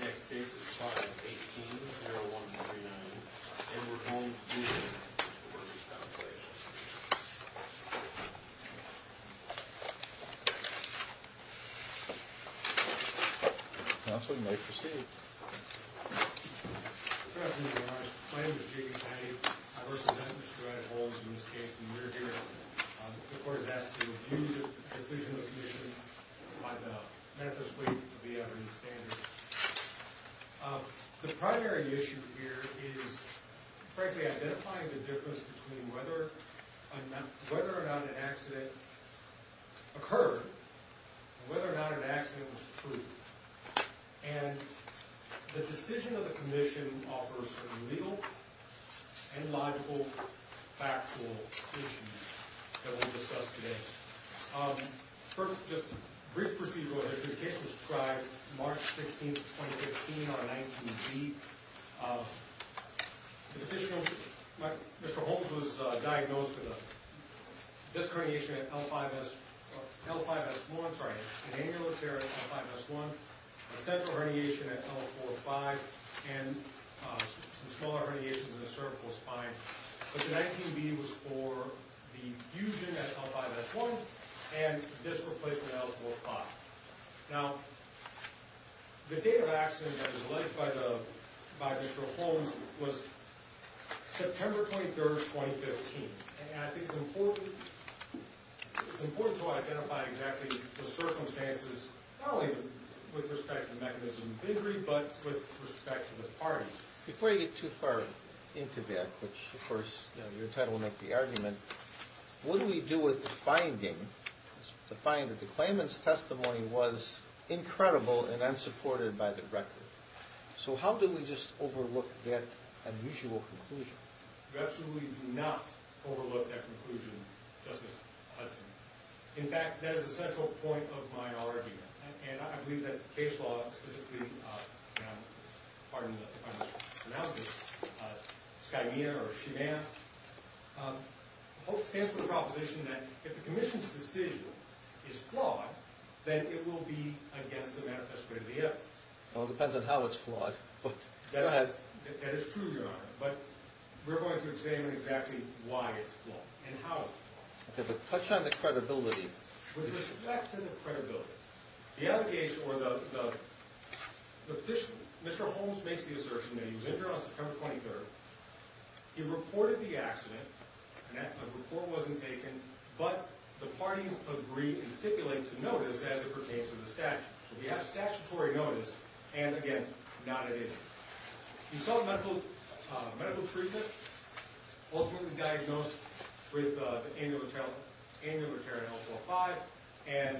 Next case is 5-18-0139, and we're going to do the Workers' Compensation Commission. Counselor, you may proceed. Good afternoon, Your Honor. My name is Jacob Caddy. I work as an administrative officer in this case, and when we were here, the court has asked to review the decision of the commission by the metrics weight of the evidence standard. The primary issue here is, frankly, identifying the difference between whether or not an accident occurred and whether or not an accident was true. And the decision of the commission offers a legal and logical factual issue that we'll discuss today. First, just a brief procedural. This case was tried March 16, 2015, on a 19B. The petitioner, Mr. Holmes, was diagnosed with a disc herniation at L5S1, an annular tear at L5S1, a central herniation at L045, and some smaller herniations in the cervical spine. But the 19B was for the fusion at L5S1 and disc replacement at L045. Now, the date of accident that was alleged by Mr. Holmes was September 23, 2015. And I think it's important to identify exactly the circumstances, not only with respect to mechanism of injury, but with respect to the parties. Before you get too far into that, which, of course, your title will make the argument, what do we do with the finding that the claimant's testimony was incredible and unsupported by the record? So how do we just overlook that unusual conclusion? We absolutely do not overlook that conclusion, Justice Hudson. In fact, that is the central point of my argument. And I believe that the case law, specifically, pardon me if I mispronounce it, SCIMEA or SCIMEA, stands for the proposition that if the commission's decision is flawed, then it will be against the manifesto of the evidence. Well, it depends on how it's flawed. Go ahead. That is true, Your Honor. But we're going to examine exactly why it's flawed and how it's flawed. Okay, but touch on the credibility. With respect to the credibility, the allegation or the petition, Mr. Holmes makes the assertion that he was injured on September 23. He reported the accident, and that report wasn't taken. But the parties agree and stipulate to notice as it pertains to the statute. So we have statutory notice and, again, not an injury. He saw medical treatment, ultimately diagnosed with an annular tear in L4-5 and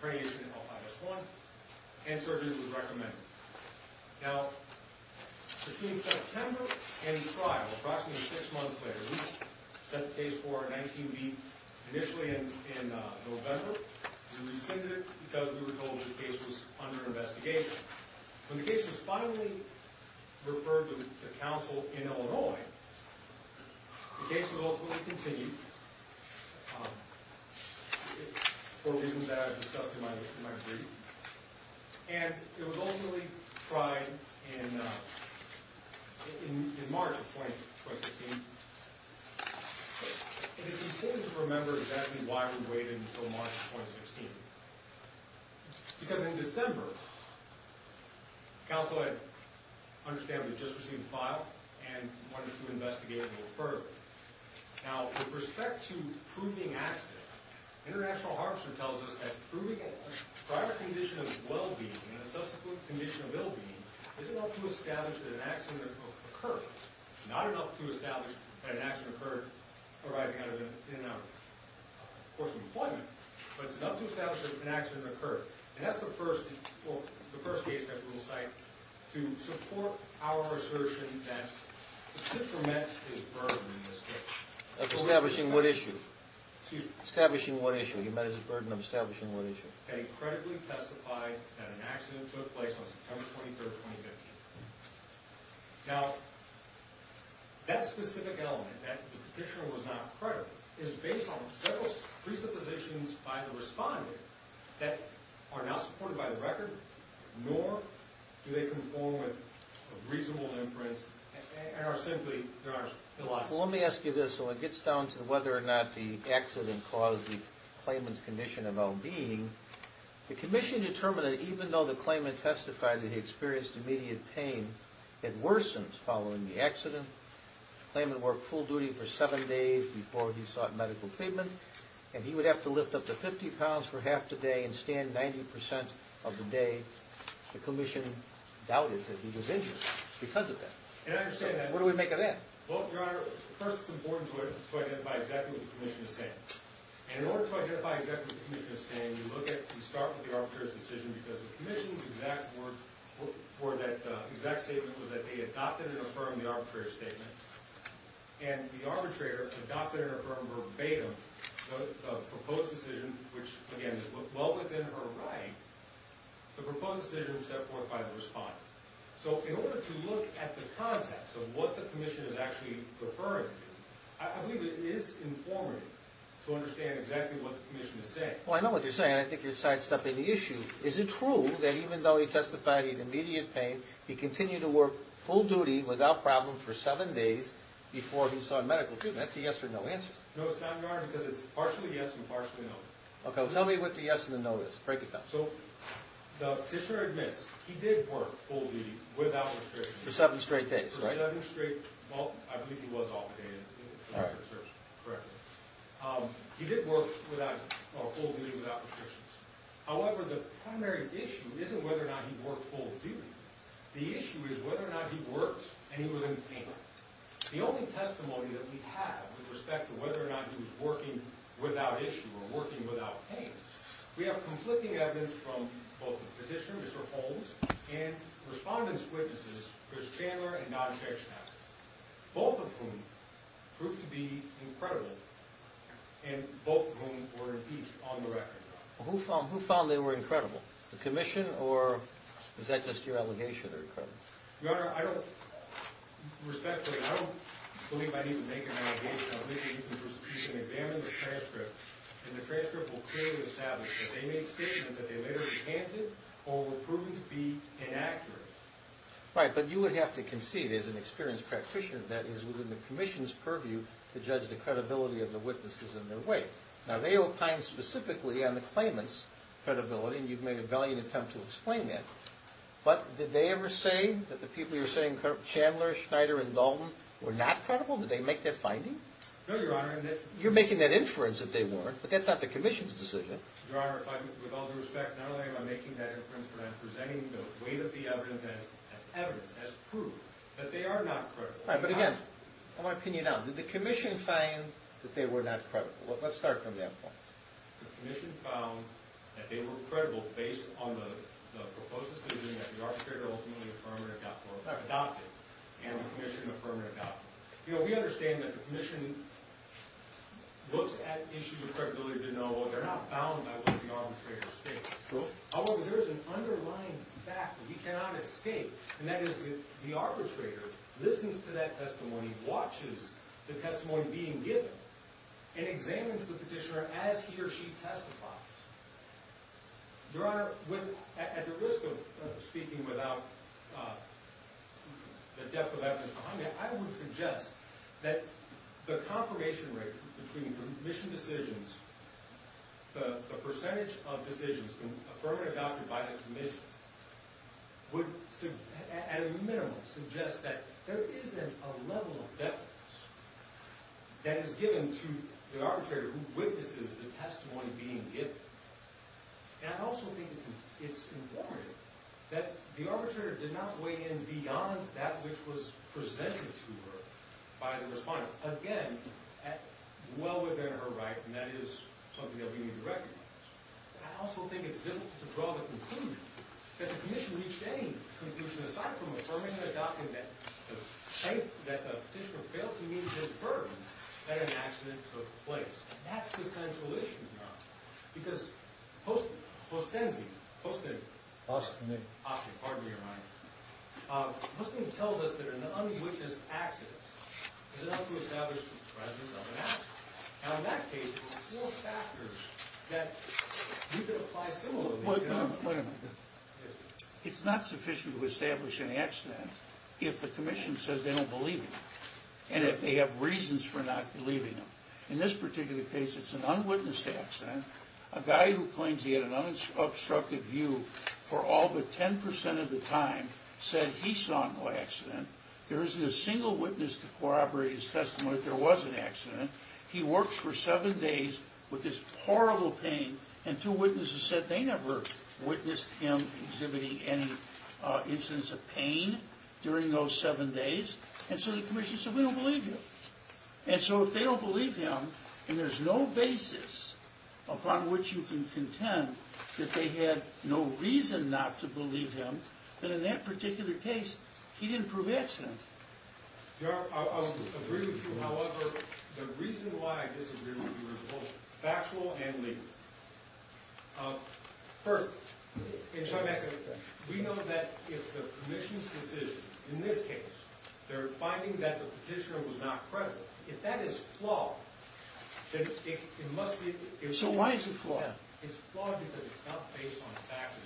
cranial injury in L5-S1, and surgery was recommended. Now, between September and the trial, approximately six months later, we sent the case for a 19-B initially in November. We rescinded it because we were told the case was under investigation. But when the case was finally referred to counsel in Illinois, the case would ultimately continue for reasons that I've discussed in my brief. And it was ultimately tried in March of 2016. But it is important to remember exactly why we waited until March of 2016. Because in December, counsel had understandably just received the file and wanted to investigate it a little further. Now, with respect to proving accident, International Harvester tells us that proving a prior condition of well-being and a subsequent condition of ill-being is enough to establish that an accident occurred. It's not enough to establish that an accident occurred arising out of a course of employment, but it's enough to establish that an accident occurred. And that's the first case that we will cite to support our assertion that the patient met his burden in this case. Establishing what issue? Establishing what issue? He met his burden of establishing what issue? That he credibly testified that an accident took place on September 23, 2015. Now, that specific element, that the petitioner was not credible, is based on several presuppositions by the respondent that are not supported by the record, nor do they conform with reasonable inference, and are simply not reliable. Well, let me ask you this, so it gets down to whether or not the accident caused the claimant's condition of well-being. The commission determined that even though the claimant testified that he experienced immediate pain, it worsened following the accident. The claimant worked full duty for seven days before he sought medical treatment, and he would have to lift up to 50 pounds for half the day and stand 90% of the day. The commission doubted that he was injured because of that. And I understand that. What do we make of that? Well, Your Honor, first it's important to identify exactly what the commission is saying. And in order to identify exactly what the commission is saying, you start with the arbitrator's decision, because the commission's exact statement was that they adopted and affirmed the arbitrator's statement. And the arbitrator adopted and affirmed verbatim the proposed decision, which, again, is well within her right. The proposed decision was set forth by the respondent. So in order to look at the context of what the commission is actually referring to, I believe it is informative to understand exactly what the commission is saying. Well, I know what you're saying. I think you're sidestepping the issue. Is it true that even though he testified he had immediate pain, he continued to work full duty without problem for seven days before he sought medical treatment? That's a yes or no answer. No, it's not, Your Honor, because it's partially yes and partially no. Okay, well, tell me what the yes and the no is. Break it down. So the petitioner admits he did work full duty without restrictions. For seven straight days, right? For seven straight days. Well, I believe he was operated. Correct. Correct. He did work full duty without restrictions. However, the primary issue isn't whether or not he worked full duty. The issue is whether or not he worked and he was in pain. Your Honor, the only testimony that we have with respect to whether or not he was working without issue or working without pain, we have conflicting evidence from both the petitioner, Mr. Holmes, and respondents' witnesses, Chris Chandler and Don Schechtner, both of whom proved to be incredible and both of whom were impeached on the record. Who found they were incredible? The commission or was that just your allegation? Your Honor, I don't believe I need to make an allegation. I believe you can examine the transcript, and the transcript will clearly establish that they made statements that they later recanted or were proven to be inaccurate. Right, but you would have to concede as an experienced practitioner that is within the commission's purview to judge the credibility of the witnesses in their way. Now, they opined specifically on the claimant's credibility, and you've made a valiant attempt to explain that. But did they ever say that the people you're saying, Chandler, Schneider, and Dalton, were not credible? Did they make that finding? No, Your Honor. You're making that inference that they weren't, but that's not the commission's decision. Your Honor, with all due respect, not only am I making that inference, but I'm presenting the way that the evidence has proved that they are not credible. Right, but again, I want to pin you down. Did the commission find that they were not credible? Let's start from that point. The commission found that they were credible based on the proposed decision that the arbitrator ultimately affirmed and adopted, and the commission affirmed and adopted. You know, we understand that the commission looks at issues of credibility to know, well, they're not bound by what the arbitrator states. True. However, there is an underlying fact that we cannot escape, and that is that the arbitrator listens to that testimony, watches the testimony being given, and examines the petitioner as he or she testifies. Your Honor, at the risk of speaking without the depth of evidence behind me, I would suggest that the confirmation rate between the commission decisions, the percentage of decisions affirmed and adopted by the commission, would, at a minimum, suggest that there isn't a level of evidence that is given to the arbitrator who witnesses the testimony being given. And I also think it's important that the arbitrator did not weigh in beyond that which was presented to her by the respondent. Again, well within her right, and that is something that we need to recognize. But I also think it's difficult to draw the conclusion that the commission reached any conclusion aside from affirming and adopting that the petitioner failed to meet his burden that an accident took place. That's the central issue, Your Honor. Because Hostin, Hostenzie, Hostin. Hostinick. Hostinick, pardon me, Your Honor. Hostinick tells us that an unwitnessed accident is enough to establish the presence of an accident. Now in that case, there are four factors that you could apply similarly, Your Honor. Wait a minute, wait a minute. It's not sufficient to establish an accident if the commission says they don't believe him. And if they have reasons for not believing him. In this particular case, it's an unwitnessed accident. A guy who claims he had an unobstructed view for all but 10% of the time said he saw no accident. There isn't a single witness to corroborate his testimony that there was an accident. He worked for seven days with this horrible pain, and two witnesses said they never witnessed him exhibiting any incidence of pain during those seven days. And so the commission said, we don't believe you. And so if they don't believe him, and there's no basis upon which you can contend that they had no reason not to believe him, then in that particular case, he didn't prove the accident. Your Honor, I would agree with you. However, the reason why I disagree with you is both factual and legal. First, we know that if the commission's decision, in this case, they're finding that the petitioner was not credible. If that is flawed, then it must be. So why is it flawed? It's flawed because it's not based on facts.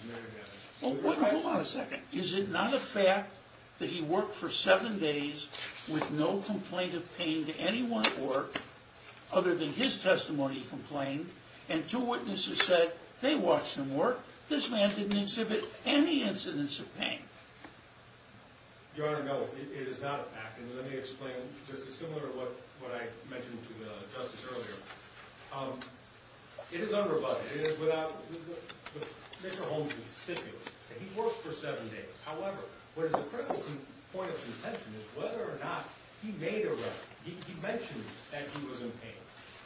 Hold on a second. Is it not a fact that he worked for seven days with no complaint of pain to anyone at work other than his testimony complained, and two witnesses said they watched him work. This man didn't exhibit any incidence of pain. Your Honor, no. It is not a fact. And let me explain. This is similar to what I mentioned to Justice earlier. It is unrebutted. It is without Mr. Holmes' stipulation that he worked for seven days. However, what is a critical point of contention is whether or not he made a run. He mentioned that he was in pain.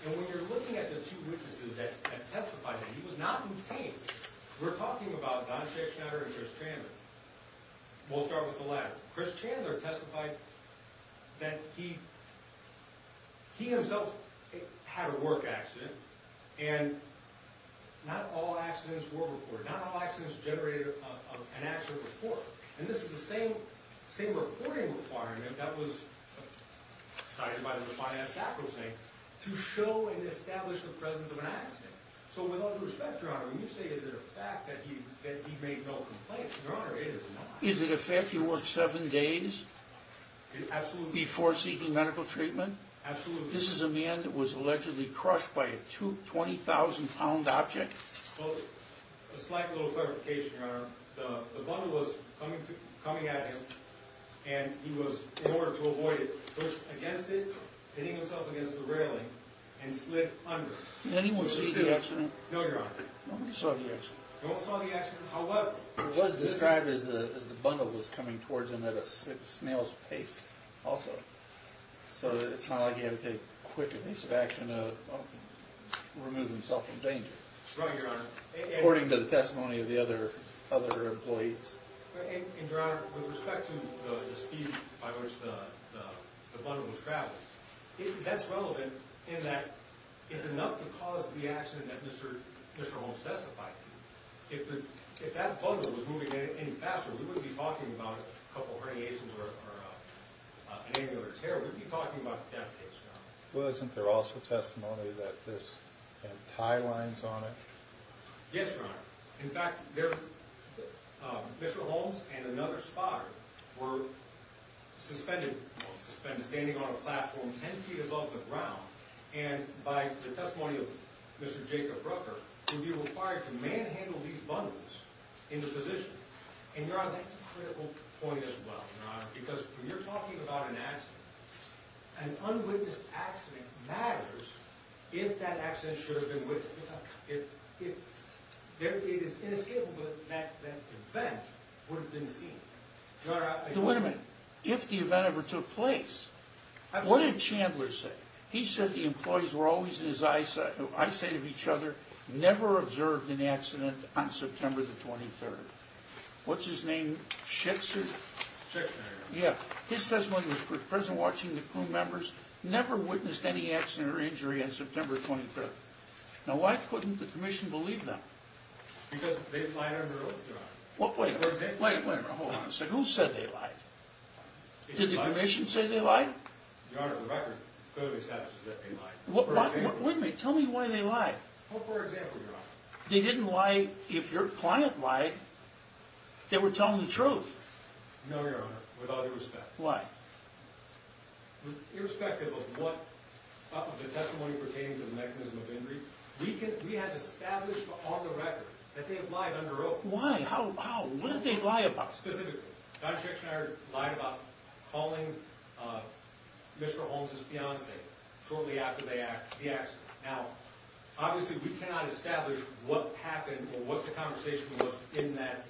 And when you're looking at the two witnesses that testified that he was not in pain, we're talking about Don Schechter and Chris Chandler. We'll start with the latter. Chris Chandler testified that he himself had a work accident, and not all accidents were reported. Not all accidents generated an accident report. And this is the same reporting requirement that was cited by the defiant sacrosanct to show and establish the presence of an accident. So with all due respect, Your Honor, when you say is it a fact that he made no complaints, Your Honor, it is not. Is it a fact he worked seven days before seeking medical treatment? Absolutely. But this is a man that was allegedly crushed by a 20,000-pound object? Well, a slight little clarification, Your Honor. The bundle was coming at him, and he was, in order to avoid it, pushed against it, hitting himself against the railing, and slid under. Did anyone see the accident? No, Your Honor. Nobody saw the accident. No one saw the accident. However, it was described as the bundle was coming towards him at a snail's pace also. So it's not like he had to take quick and easy action to remove himself from danger. That's right, Your Honor. According to the testimony of the other employees. And, Your Honor, with respect to the speed by which the bundle was traveling, that's relevant in that it's enough to cause the accident that Mr. Holmes testified to. If that bundle was moving any faster, we wouldn't be talking about a couple herniations or an angular tear. We'd be talking about a death case, Your Honor. Wasn't there also testimony that this had tie lines on it? Yes, Your Honor. In fact, Mr. Holmes and another spotter were suspended, standing on a platform 10 feet above the ground. And by the testimony of Mr. Jacob Rucker, it would be required to manhandle these bundles in the position. And, Your Honor, that's a critical point as well, Your Honor, because when you're talking about an accident, an unwitnessed accident matters if that accident should have been witnessed. It is inescapable that that event would have been seen. Your Honor, I can't... Wait a minute. If the event ever took place, what did Chandler say? He said the employees were always in his eyesight of each other, never observed an accident on September the 23rd. What's his name? Schitzer? Schitzer, Your Honor. Yeah. His testimony was present watching the crew members, never witnessed any accident or injury on September the 23rd. Now, why couldn't the Commission believe that? Because they lied under oath, Your Honor. Wait a minute. Hold on a second. Who said they lied? Did the Commission say they lied? Your Honor, Rucker could have established that they lied. Wait a minute. Tell me why they lied. Well, for example, Your Honor. They didn't lie if your client lied. They were telling the truth. No, Your Honor, with all due respect. Why? Irrespective of what part of the testimony pertains to the mechanism of injury, we had established on the record that they had lied under oath. Why? How? What did they lie about? Specifically, Dr. Chick Schneider lied about calling Mr. Holmes' fiancée shortly after the accident. Now, obviously we cannot establish what happened or what the conversation was in that,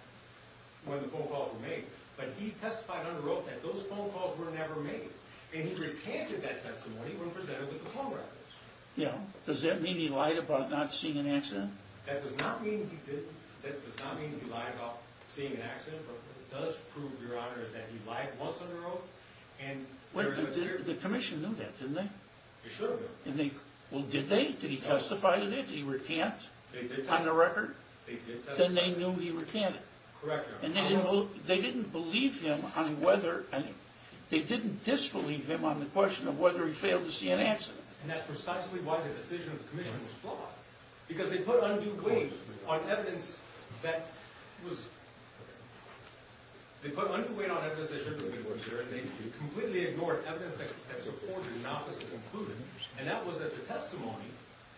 when the phone calls were made. But he testified under oath that those phone calls were never made. And he repented that testimony when presented with the phone records. Yeah. Does that mean he lied about not seeing an accident? That does not mean he didn't. That does not mean he lied about seeing an accident. But what it does prove, Your Honor, is that he lied once under oath. The Commission knew that, didn't they? They should have known. Well, did they? Did he testify to that? Did he repent on the record? They did testify. Then they knew he repented. Correct, Your Honor. And they didn't believe him on whether, they didn't disbelieve him on the question of whether he failed to see an accident. And that's precisely why the decision of the Commission was flawed. Because they put undue weight on evidence that was, they put undue weight on evidence that should have been ignored, sir, and they completely ignored evidence that supported an opposite conclusion. And that was that the testimony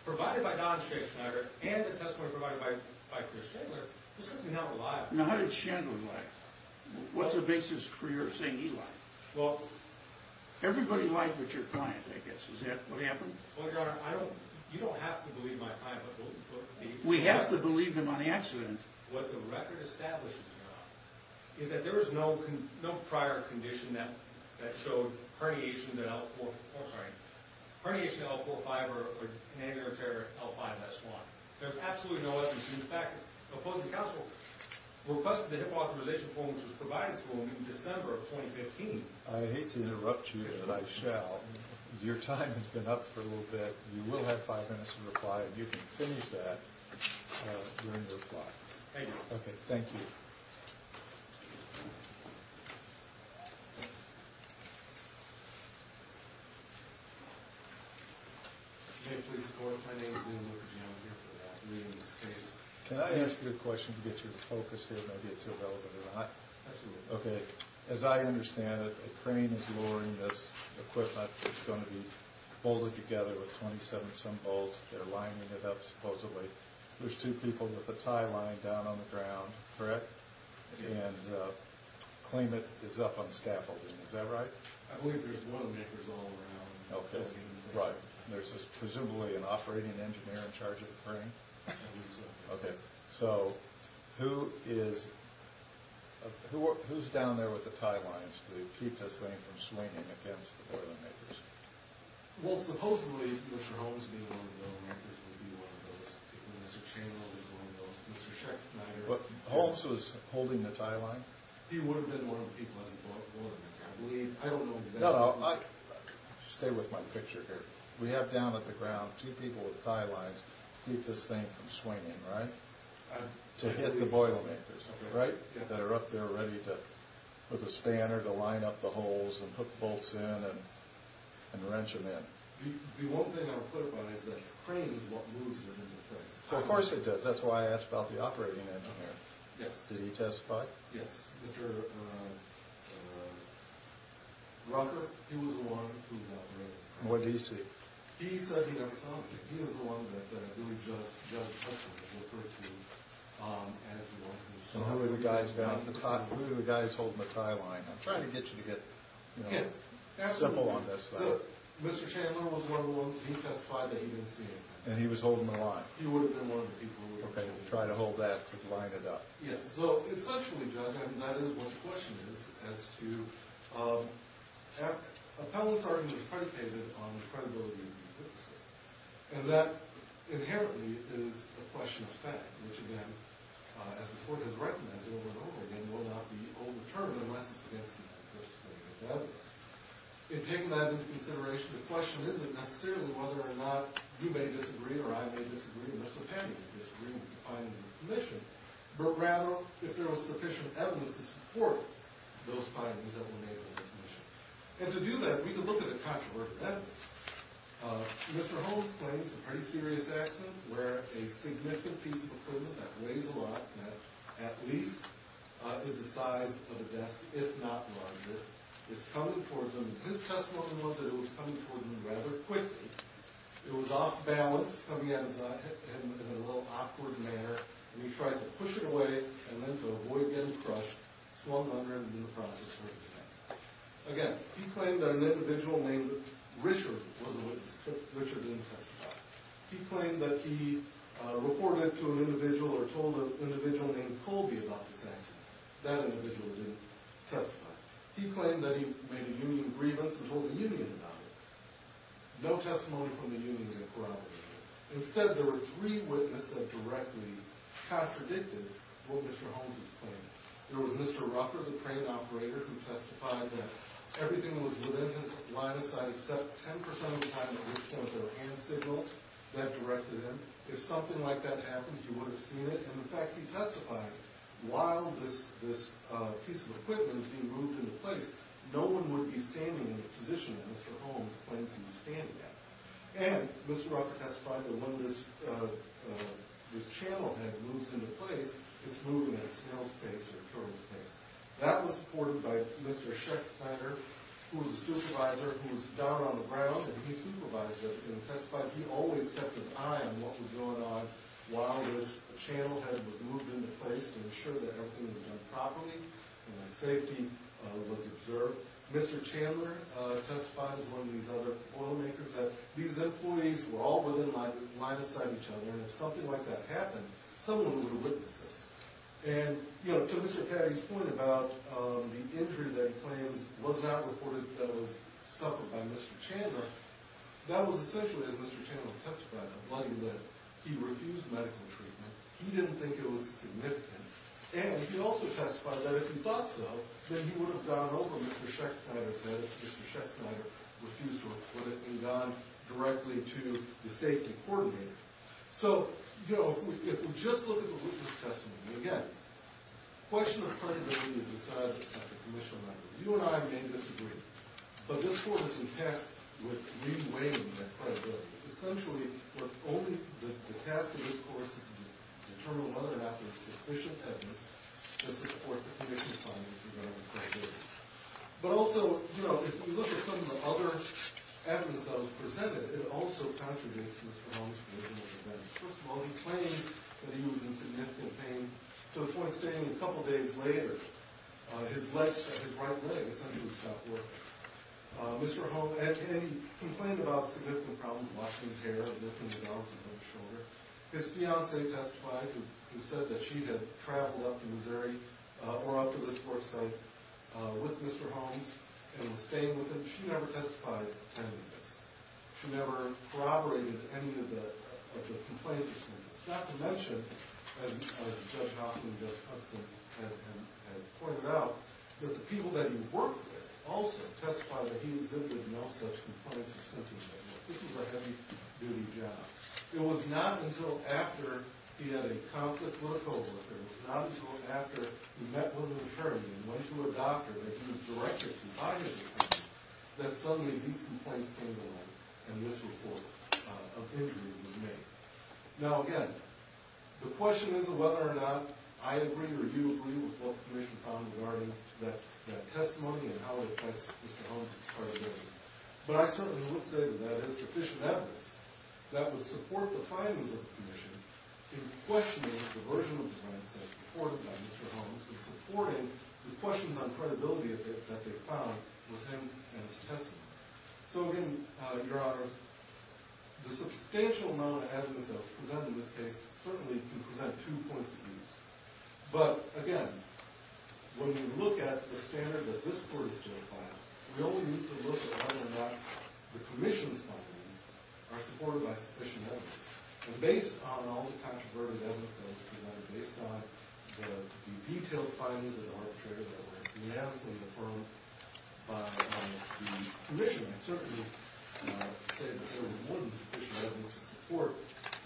provided by Don Scheck Schneider and the testimony provided by Chris Schengler was simply not reliable. Now, how did Schengler lie? What's the basis for your saying he lied? Well, Everybody lied but your client, I guess. Is that what happened? Well, Your Honor, I don't, you don't have to believe my client. We have to believe him on the accident. What the record establishes, Your Honor, is that there was no prior condition that showed herniation, herniation L4-5 or conangular tear L5-S1. There's absolutely no evidence to the fact that opposing counsel requested the authorization form which was provided to him in December of 2015. I hate to interrupt you, but I shall. Your time has been up for a little bit. You will have five minutes to reply, and you can finish that during your reply. Thank you. Okay, thank you. May I please report? My name is William Looker-Jones. I'm here for the reading of this case. Can I ask you a question to get your focus here? Maybe it's irrelevant or not. Absolutely. Okay. As I understand it, a crane is lowering this equipment that's going to be bolted together with 27-some bolts. They're lining it up supposedly. There's two people with a tie line down on the ground, correct? Yes. And claimant is up on scaffolding. Is that right? I believe there's boilermakers all around. Okay, right. There's presumably an operating engineer in charge of the crane? I believe so. Okay. So who is down there with the tie lines to keep this thing from swinging against the boilermakers? Well, supposedly Mr. Holmes being one of the boilermakers would be one of those people. Mr. Chamberlain is one of those. But Holmes was holding the tie line? He would have been one of the people as the boilermaker. I believe. I don't know exactly. No, no. Stay with my picture here. We have down at the ground two people with tie lines to keep this thing from swinging, right? To hit the boilermakers, right? That are up there ready with a spanner to line up the holes and put the bolts in and wrench them in. The one thing I'll clarify is that crane is what moves it into place. Of course it does. That's why I asked about the operating engineer. Yes. Did he testify? Yes. Mr. Rutherford, he was the one who operated it. What did he say? He said he never saw it. He was the one that Judge Hutchinson referred to as the one who saw it. Who were the guys holding the tie line? I'm trying to get you to get simple on this. Mr. Chandler was one of the ones. He testified that he didn't see it. And he was holding the line? He would have been one of the people. Okay. He tried to hold that to line it up. Yes. So essentially, Judge, I mean, that is what the question is as to appellate charges predicated on the credibility of the witnesses. And that inherently is a question of fact, which again, as the court has recognized over and over again, will not be overturned unless it's against the jurisdiction of the evidence. In taking that into consideration, the question isn't necessarily whether or not you may disagree or I may disagree, unless the panel disagrees with the findings of the commission, but rather if there was sufficient evidence to support those findings that were made in the commission. And to do that, we can look at the controversial evidence. Mr. Holmes claims a pretty serious accident where a significant piece of equipment that weighs a lot, that at least is the size of a desk, if not larger, is coming toward them. His testimony was that it was coming toward them rather quickly. It was off balance, coming at him in a little awkward manner, and he tried to push it away and then to avoid getting crushed, slumped under, and in the process hurt his neck. Again, he claimed that an individual named Richard was a witness. Richard didn't testify. He claimed that he reported to an individual or told an individual named Colby about this accident. That individual didn't testify. He claimed that he made a union grievance and told the union about it. No testimony from the union that corroborated that. Instead, there were three witnesses that directly contradicted what Mr. Holmes had claimed. There was Mr. Rucker, the crane operator, who testified that everything was within his line of sight except 10% of the time it was kind of their hand signals that directed him. If something like that happened, he would have seen it. And, in fact, he testified while this piece of equipment was being moved into place. No one would be standing in the position that Mr. Holmes claims he's standing at. And Mr. Rucker testified that when this channel head moves into place, it's moving at a snail's pace or a turtle's pace. That was supported by Mr. Shecksteiner, who was a supervisor, who was down on the ground, and he supervised it and testified. He always kept his eye on what was going on while this channel head was moved into place to ensure that everything was done properly and that safety was observed. Mr. Chandler testified, as one of these other oil makers, that these employees were all within line of sight of each other, and if something like that happened, someone would have witnessed this. And, you know, to Mr. Caddy's point about the injury that he claims was not reported that was suffered by Mr. Chandler, that was essentially, as Mr. Chandler testified, a bloody lift. He refused medical treatment. He didn't think it was significant. And he also testified that if he thought so, then he would have gone over Mr. Shecksteiner's head if Mr. Shecksteiner refused to report it and gone directly to the safety coordinator. So, you know, if we just look at the witness testimony, again, the question of credibility is decided by the commissioner. You and I may disagree, but this court is in text with re-weighing that credibility. Essentially, the task of this court is to determine whether or not there is sufficient evidence to support the commission's findings regarding credibility. But also, you know, if you look at some of the other evidence that was presented, it also contradicts Mr. Hull's original defense. First of all, he claims that he was in significant pain to the point, stating a couple days later, his right leg essentially stopped working. Mr. Holmes, and he complained about significant problems, washing his hair, lifting his arms and his shoulder. His fiancee testified, who said that she had traveled up to Missouri or up to this court site with Mr. Holmes and was staying with him. She never testified attending this. She never corroborated any of the complaints. Not to mention, as Judge Hoffman just pointed out, that the people that he worked with also testified that he exhibited no such complaints or symptoms at work. This was a heavy-duty job. It was not until after he had a conflict with a co-worker, it was not until after he met with an attorney and went to a doctor that he was directed to buy his insurance, that suddenly these complaints came to light and this report of injury was made. Now, again, the question is whether or not I agree or you agree with what the Commission found regarding that testimony and how it affects Mr. Holmes' credibility. But I certainly wouldn't say that that is sufficient evidence that would support the findings of the Commission in questioning the version of complaints that were reported by Mr. Holmes and supporting the questions on credibility that they found within his testimony. So, again, Your Honors, the substantial amount of evidence that was presented in this case certainly can present two points of views. But, again, when we look at the standard that this Court has justified, we only need to look at whether or not the Commission's findings are supported by sufficient evidence. And based on all the controversial evidence that was presented, based on the detailed findings of the arbitrator that were unanimously affirmed by the Commission, I certainly say that there was more than sufficient evidence to support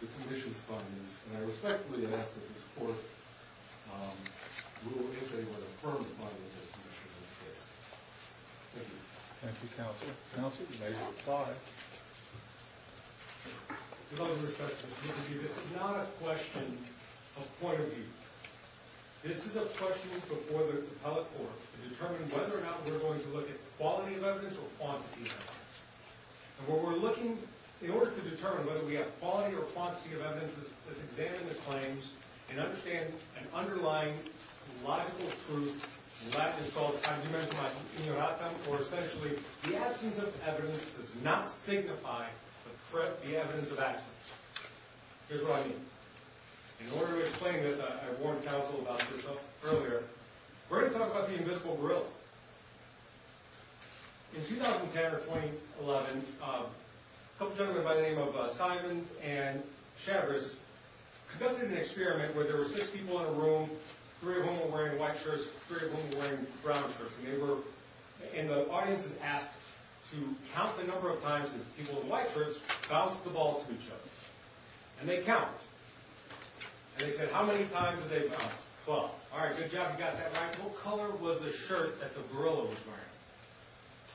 the Commission's findings, and I respectfully ask that this Court rule if they were to affirm the findings of the Commission in this case. Thank you. Thank you, Counsel. Counsel, you may be replied. With all due respect, Mr. Chief Justice, this is not a question of point of view. This is a question before the appellate court to determine whether or not we're going to look at quality of evidence or quantity of evidence. And what we're looking, in order to determine whether we have quality or quantity of evidence, let's examine the claims and understand an underlying logical truth, and that is called, as you mentioned, the absence of evidence does not signify the evidence of absence. Here's what I mean. In order to explain this, I warned Counsel about this earlier. We're going to talk about the invisible gorilla. In 2010 or 2011, a couple of gentlemen by the name of Simon and Chavis conducted an experiment where there were six people in a room, three of whom were wearing white shirts, three of whom were wearing brown shirts, and the audience is asked to count the number of times that people in white shirts bounced the ball to each other. And they count. And they said, how many times did they bounce? Twelve. All right, good job, you got that right. Now, what color was the shirt that the gorilla was wearing?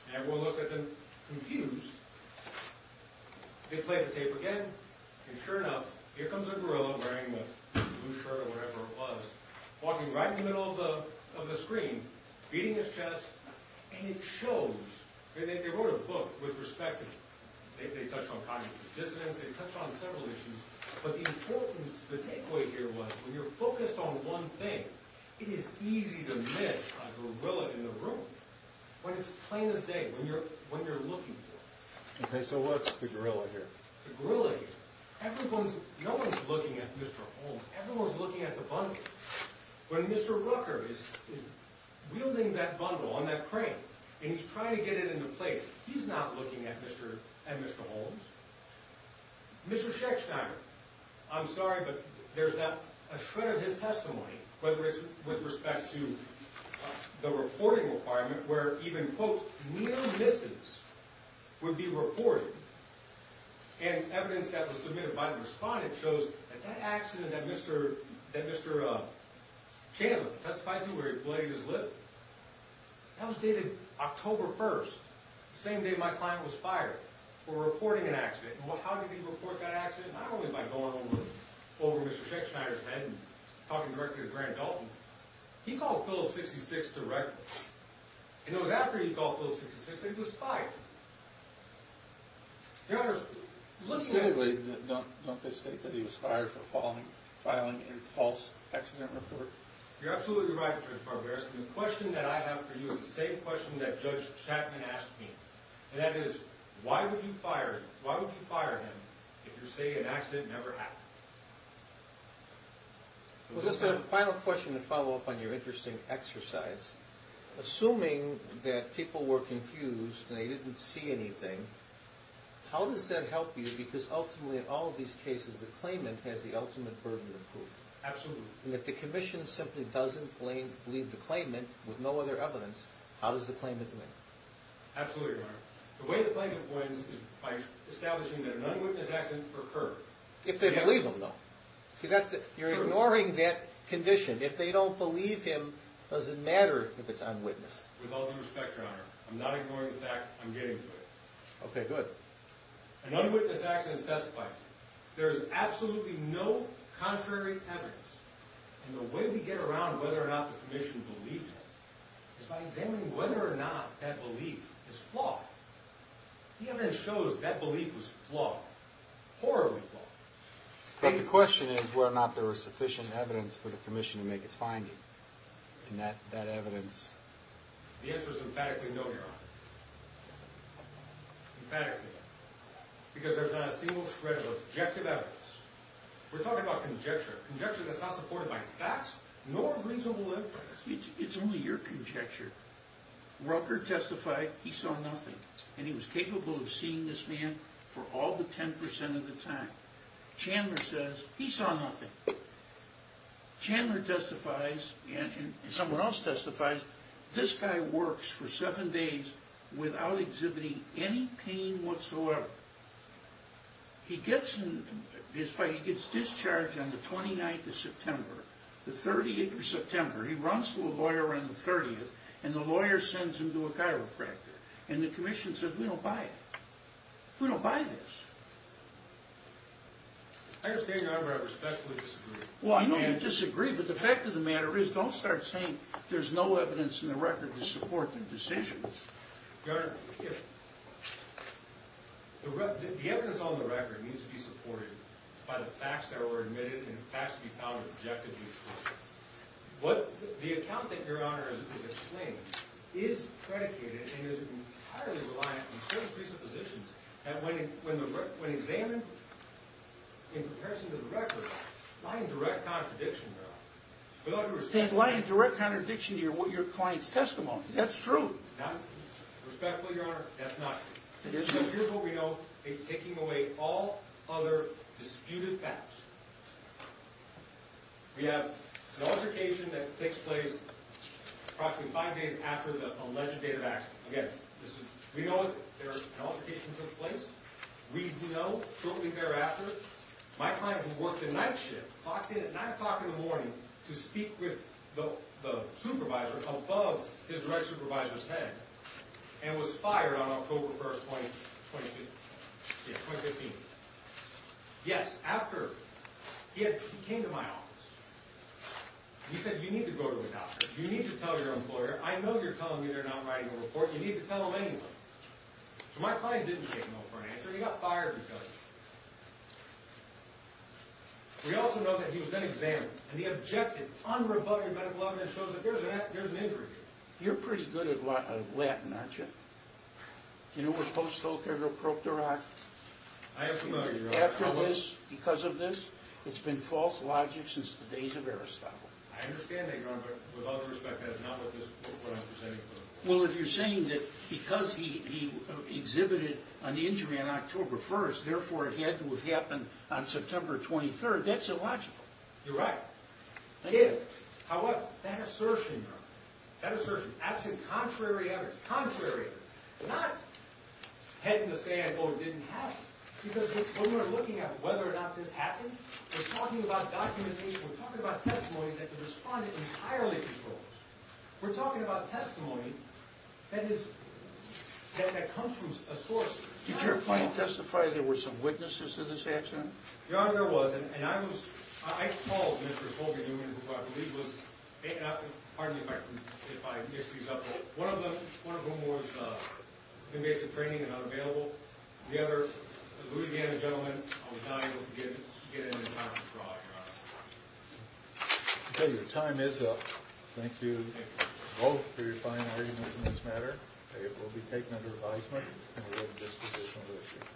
And everyone looks at them confused. They played the tape again, and sure enough, here comes a gorilla wearing a blue shirt or whatever it was, walking right in the middle of the screen, beating his chest, and it shows. They wrote a book with respect to it. They touched on cognitive dissonance, they touched on several issues, but the importance, the takeaway here was, when you're focused on one thing, it is easy to miss a gorilla in the room when it's plain as day, when you're looking for it. Okay, so what's the gorilla here? The gorilla here, everyone's, no one's looking at Mr. Holmes, everyone's looking at the bundle. When Mr. Rucker is wielding that bundle on that crane, and he's trying to get it into place, he's not looking at Mr. Holmes. Mr. Schechtheimer, I'm sorry, but there's a shred of his testimony, whether it's with respect to the reporting requirement where even, quote, near misses would be reported. And evidence that was submitted by the respondent shows that that accident that Mr. Chandler testified to where he bladed his lip, that was dated October 1st, the same day my client was fired for reporting an accident. How did he report that accident? Not only by going over Mr. Schechtheimer's head and talking directly to Grant Dalton. He called Phillips 66 directly. And it was after he called Phillips 66 that he was spied. Don't they state that he was fired for filing a false accident report? You're absolutely right, Judge Barbaros. The question that I have for you is the same question that Judge Chapman asked me, and that is, why would you fire him if you say an accident never happened? Well, just a final question to follow up on your interesting exercise. Assuming that people were confused and they didn't see anything, how does that help you? Because ultimately in all of these cases, the claimant has the ultimate burden of proof. Absolutely. And if the commission simply doesn't believe the claimant with no other evidence, how does the claimant win? Absolutely, Your Honor. The way the claimant wins is by establishing that an unwitnessed accident occurred. If they believe him, though. You're ignoring that condition. If they don't believe him, it doesn't matter if it's unwitnessed. With all due respect, Your Honor, I'm not ignoring the fact. I'm getting to it. Okay, good. An unwitnessed accident is testified. There is absolutely no contrary evidence. And the way we get around whether or not the commission believes him is by examining whether or not that belief is flawed. The evidence shows that belief was flawed. Horribly flawed. But the question is whether or not there was sufficient evidence for the commission to make its finding. And that evidence? The answer is emphatically no, Your Honor. Emphatically. Because there's not a single shred of objective evidence. We're talking about conjecture. Conjecture that's not supported by facts nor reasonable evidence. It's only your conjecture. Rucker testified he saw nothing. And he was capable of seeing this man for all the 10% of the time. Chandler says he saw nothing. Chandler testifies, and someone else testifies, this guy works for seven days without exhibiting any pain whatsoever. He gets discharged on the 29th of September. The 30th of September. He runs to a lawyer on the 30th, and the lawyer sends him to a chiropractor. And the commission says, we don't buy it. We don't buy this. Your Honor, I respectfully disagree. Well, I know you disagree, but the fact of the matter is, don't start saying there's no evidence in the record to support the decisions. Your Honor, the evidence on the record needs to be supported by the facts that The account that Your Honor is explaining is predicated and is entirely reliant on certain presuppositions that when examined in comparison to the record, lie in direct contradiction, Your Honor. Lie in direct contradiction to your client's testimony. That's true. Respectfully, Your Honor, that's not true. Here's what we know in taking away all other disputed facts. We have an altercation that takes place approximately five days after the alleged date of accident. Again, we know an altercation took place. We know shortly thereafter, my client who worked the night shift, clocked in at nine o'clock in the morning to speak with the supervisor above his direct supervisor's head, and was fired on October 1, 2015. Yes, after he came to my office. He said, you need to go to a doctor. You need to tell your employer. I know you're telling me they're not writing a report. You need to tell them anyway. So my client didn't take no for an answer. He got fired because of it. We also know that he was then examined, and the objective unrebutted medical evidence shows that there's an injury here. You're pretty good at Latin, aren't you? Do you know what Post-October Proctor Act is? I have some idea. After this, because of this, it's been false logic since the days of Aristotle. I understand that, Your Honor, but with all due respect, that is not what I'm presenting. Well, if you're saying that because he exhibited an injury on October 1st, therefore it had to have happened on September 23rd, that's illogical. You're right. That assertion, Your Honor, that assertion, absent contrary evidence, contrary evidence, not heading to say, oh, it didn't happen, because when we're looking at whether or not this happened, we're talking about documentation. We're talking about testimony that the respondent entirely controlled. We're talking about testimony that comes from a source. Did your client testify there were some witnesses to this accident? Your Honor, there was, and I called Mr. Holger Newman, who I believe was, pardon me if I mix these up, one of whom was invasive training and unavailable. The other, a Louisiana gentleman, I was not able to get into time to draw, Your Honor. Okay, your time is up. Thank you both for your fine arguments in this matter. It will be taken under advisement, and we have a disposition over it.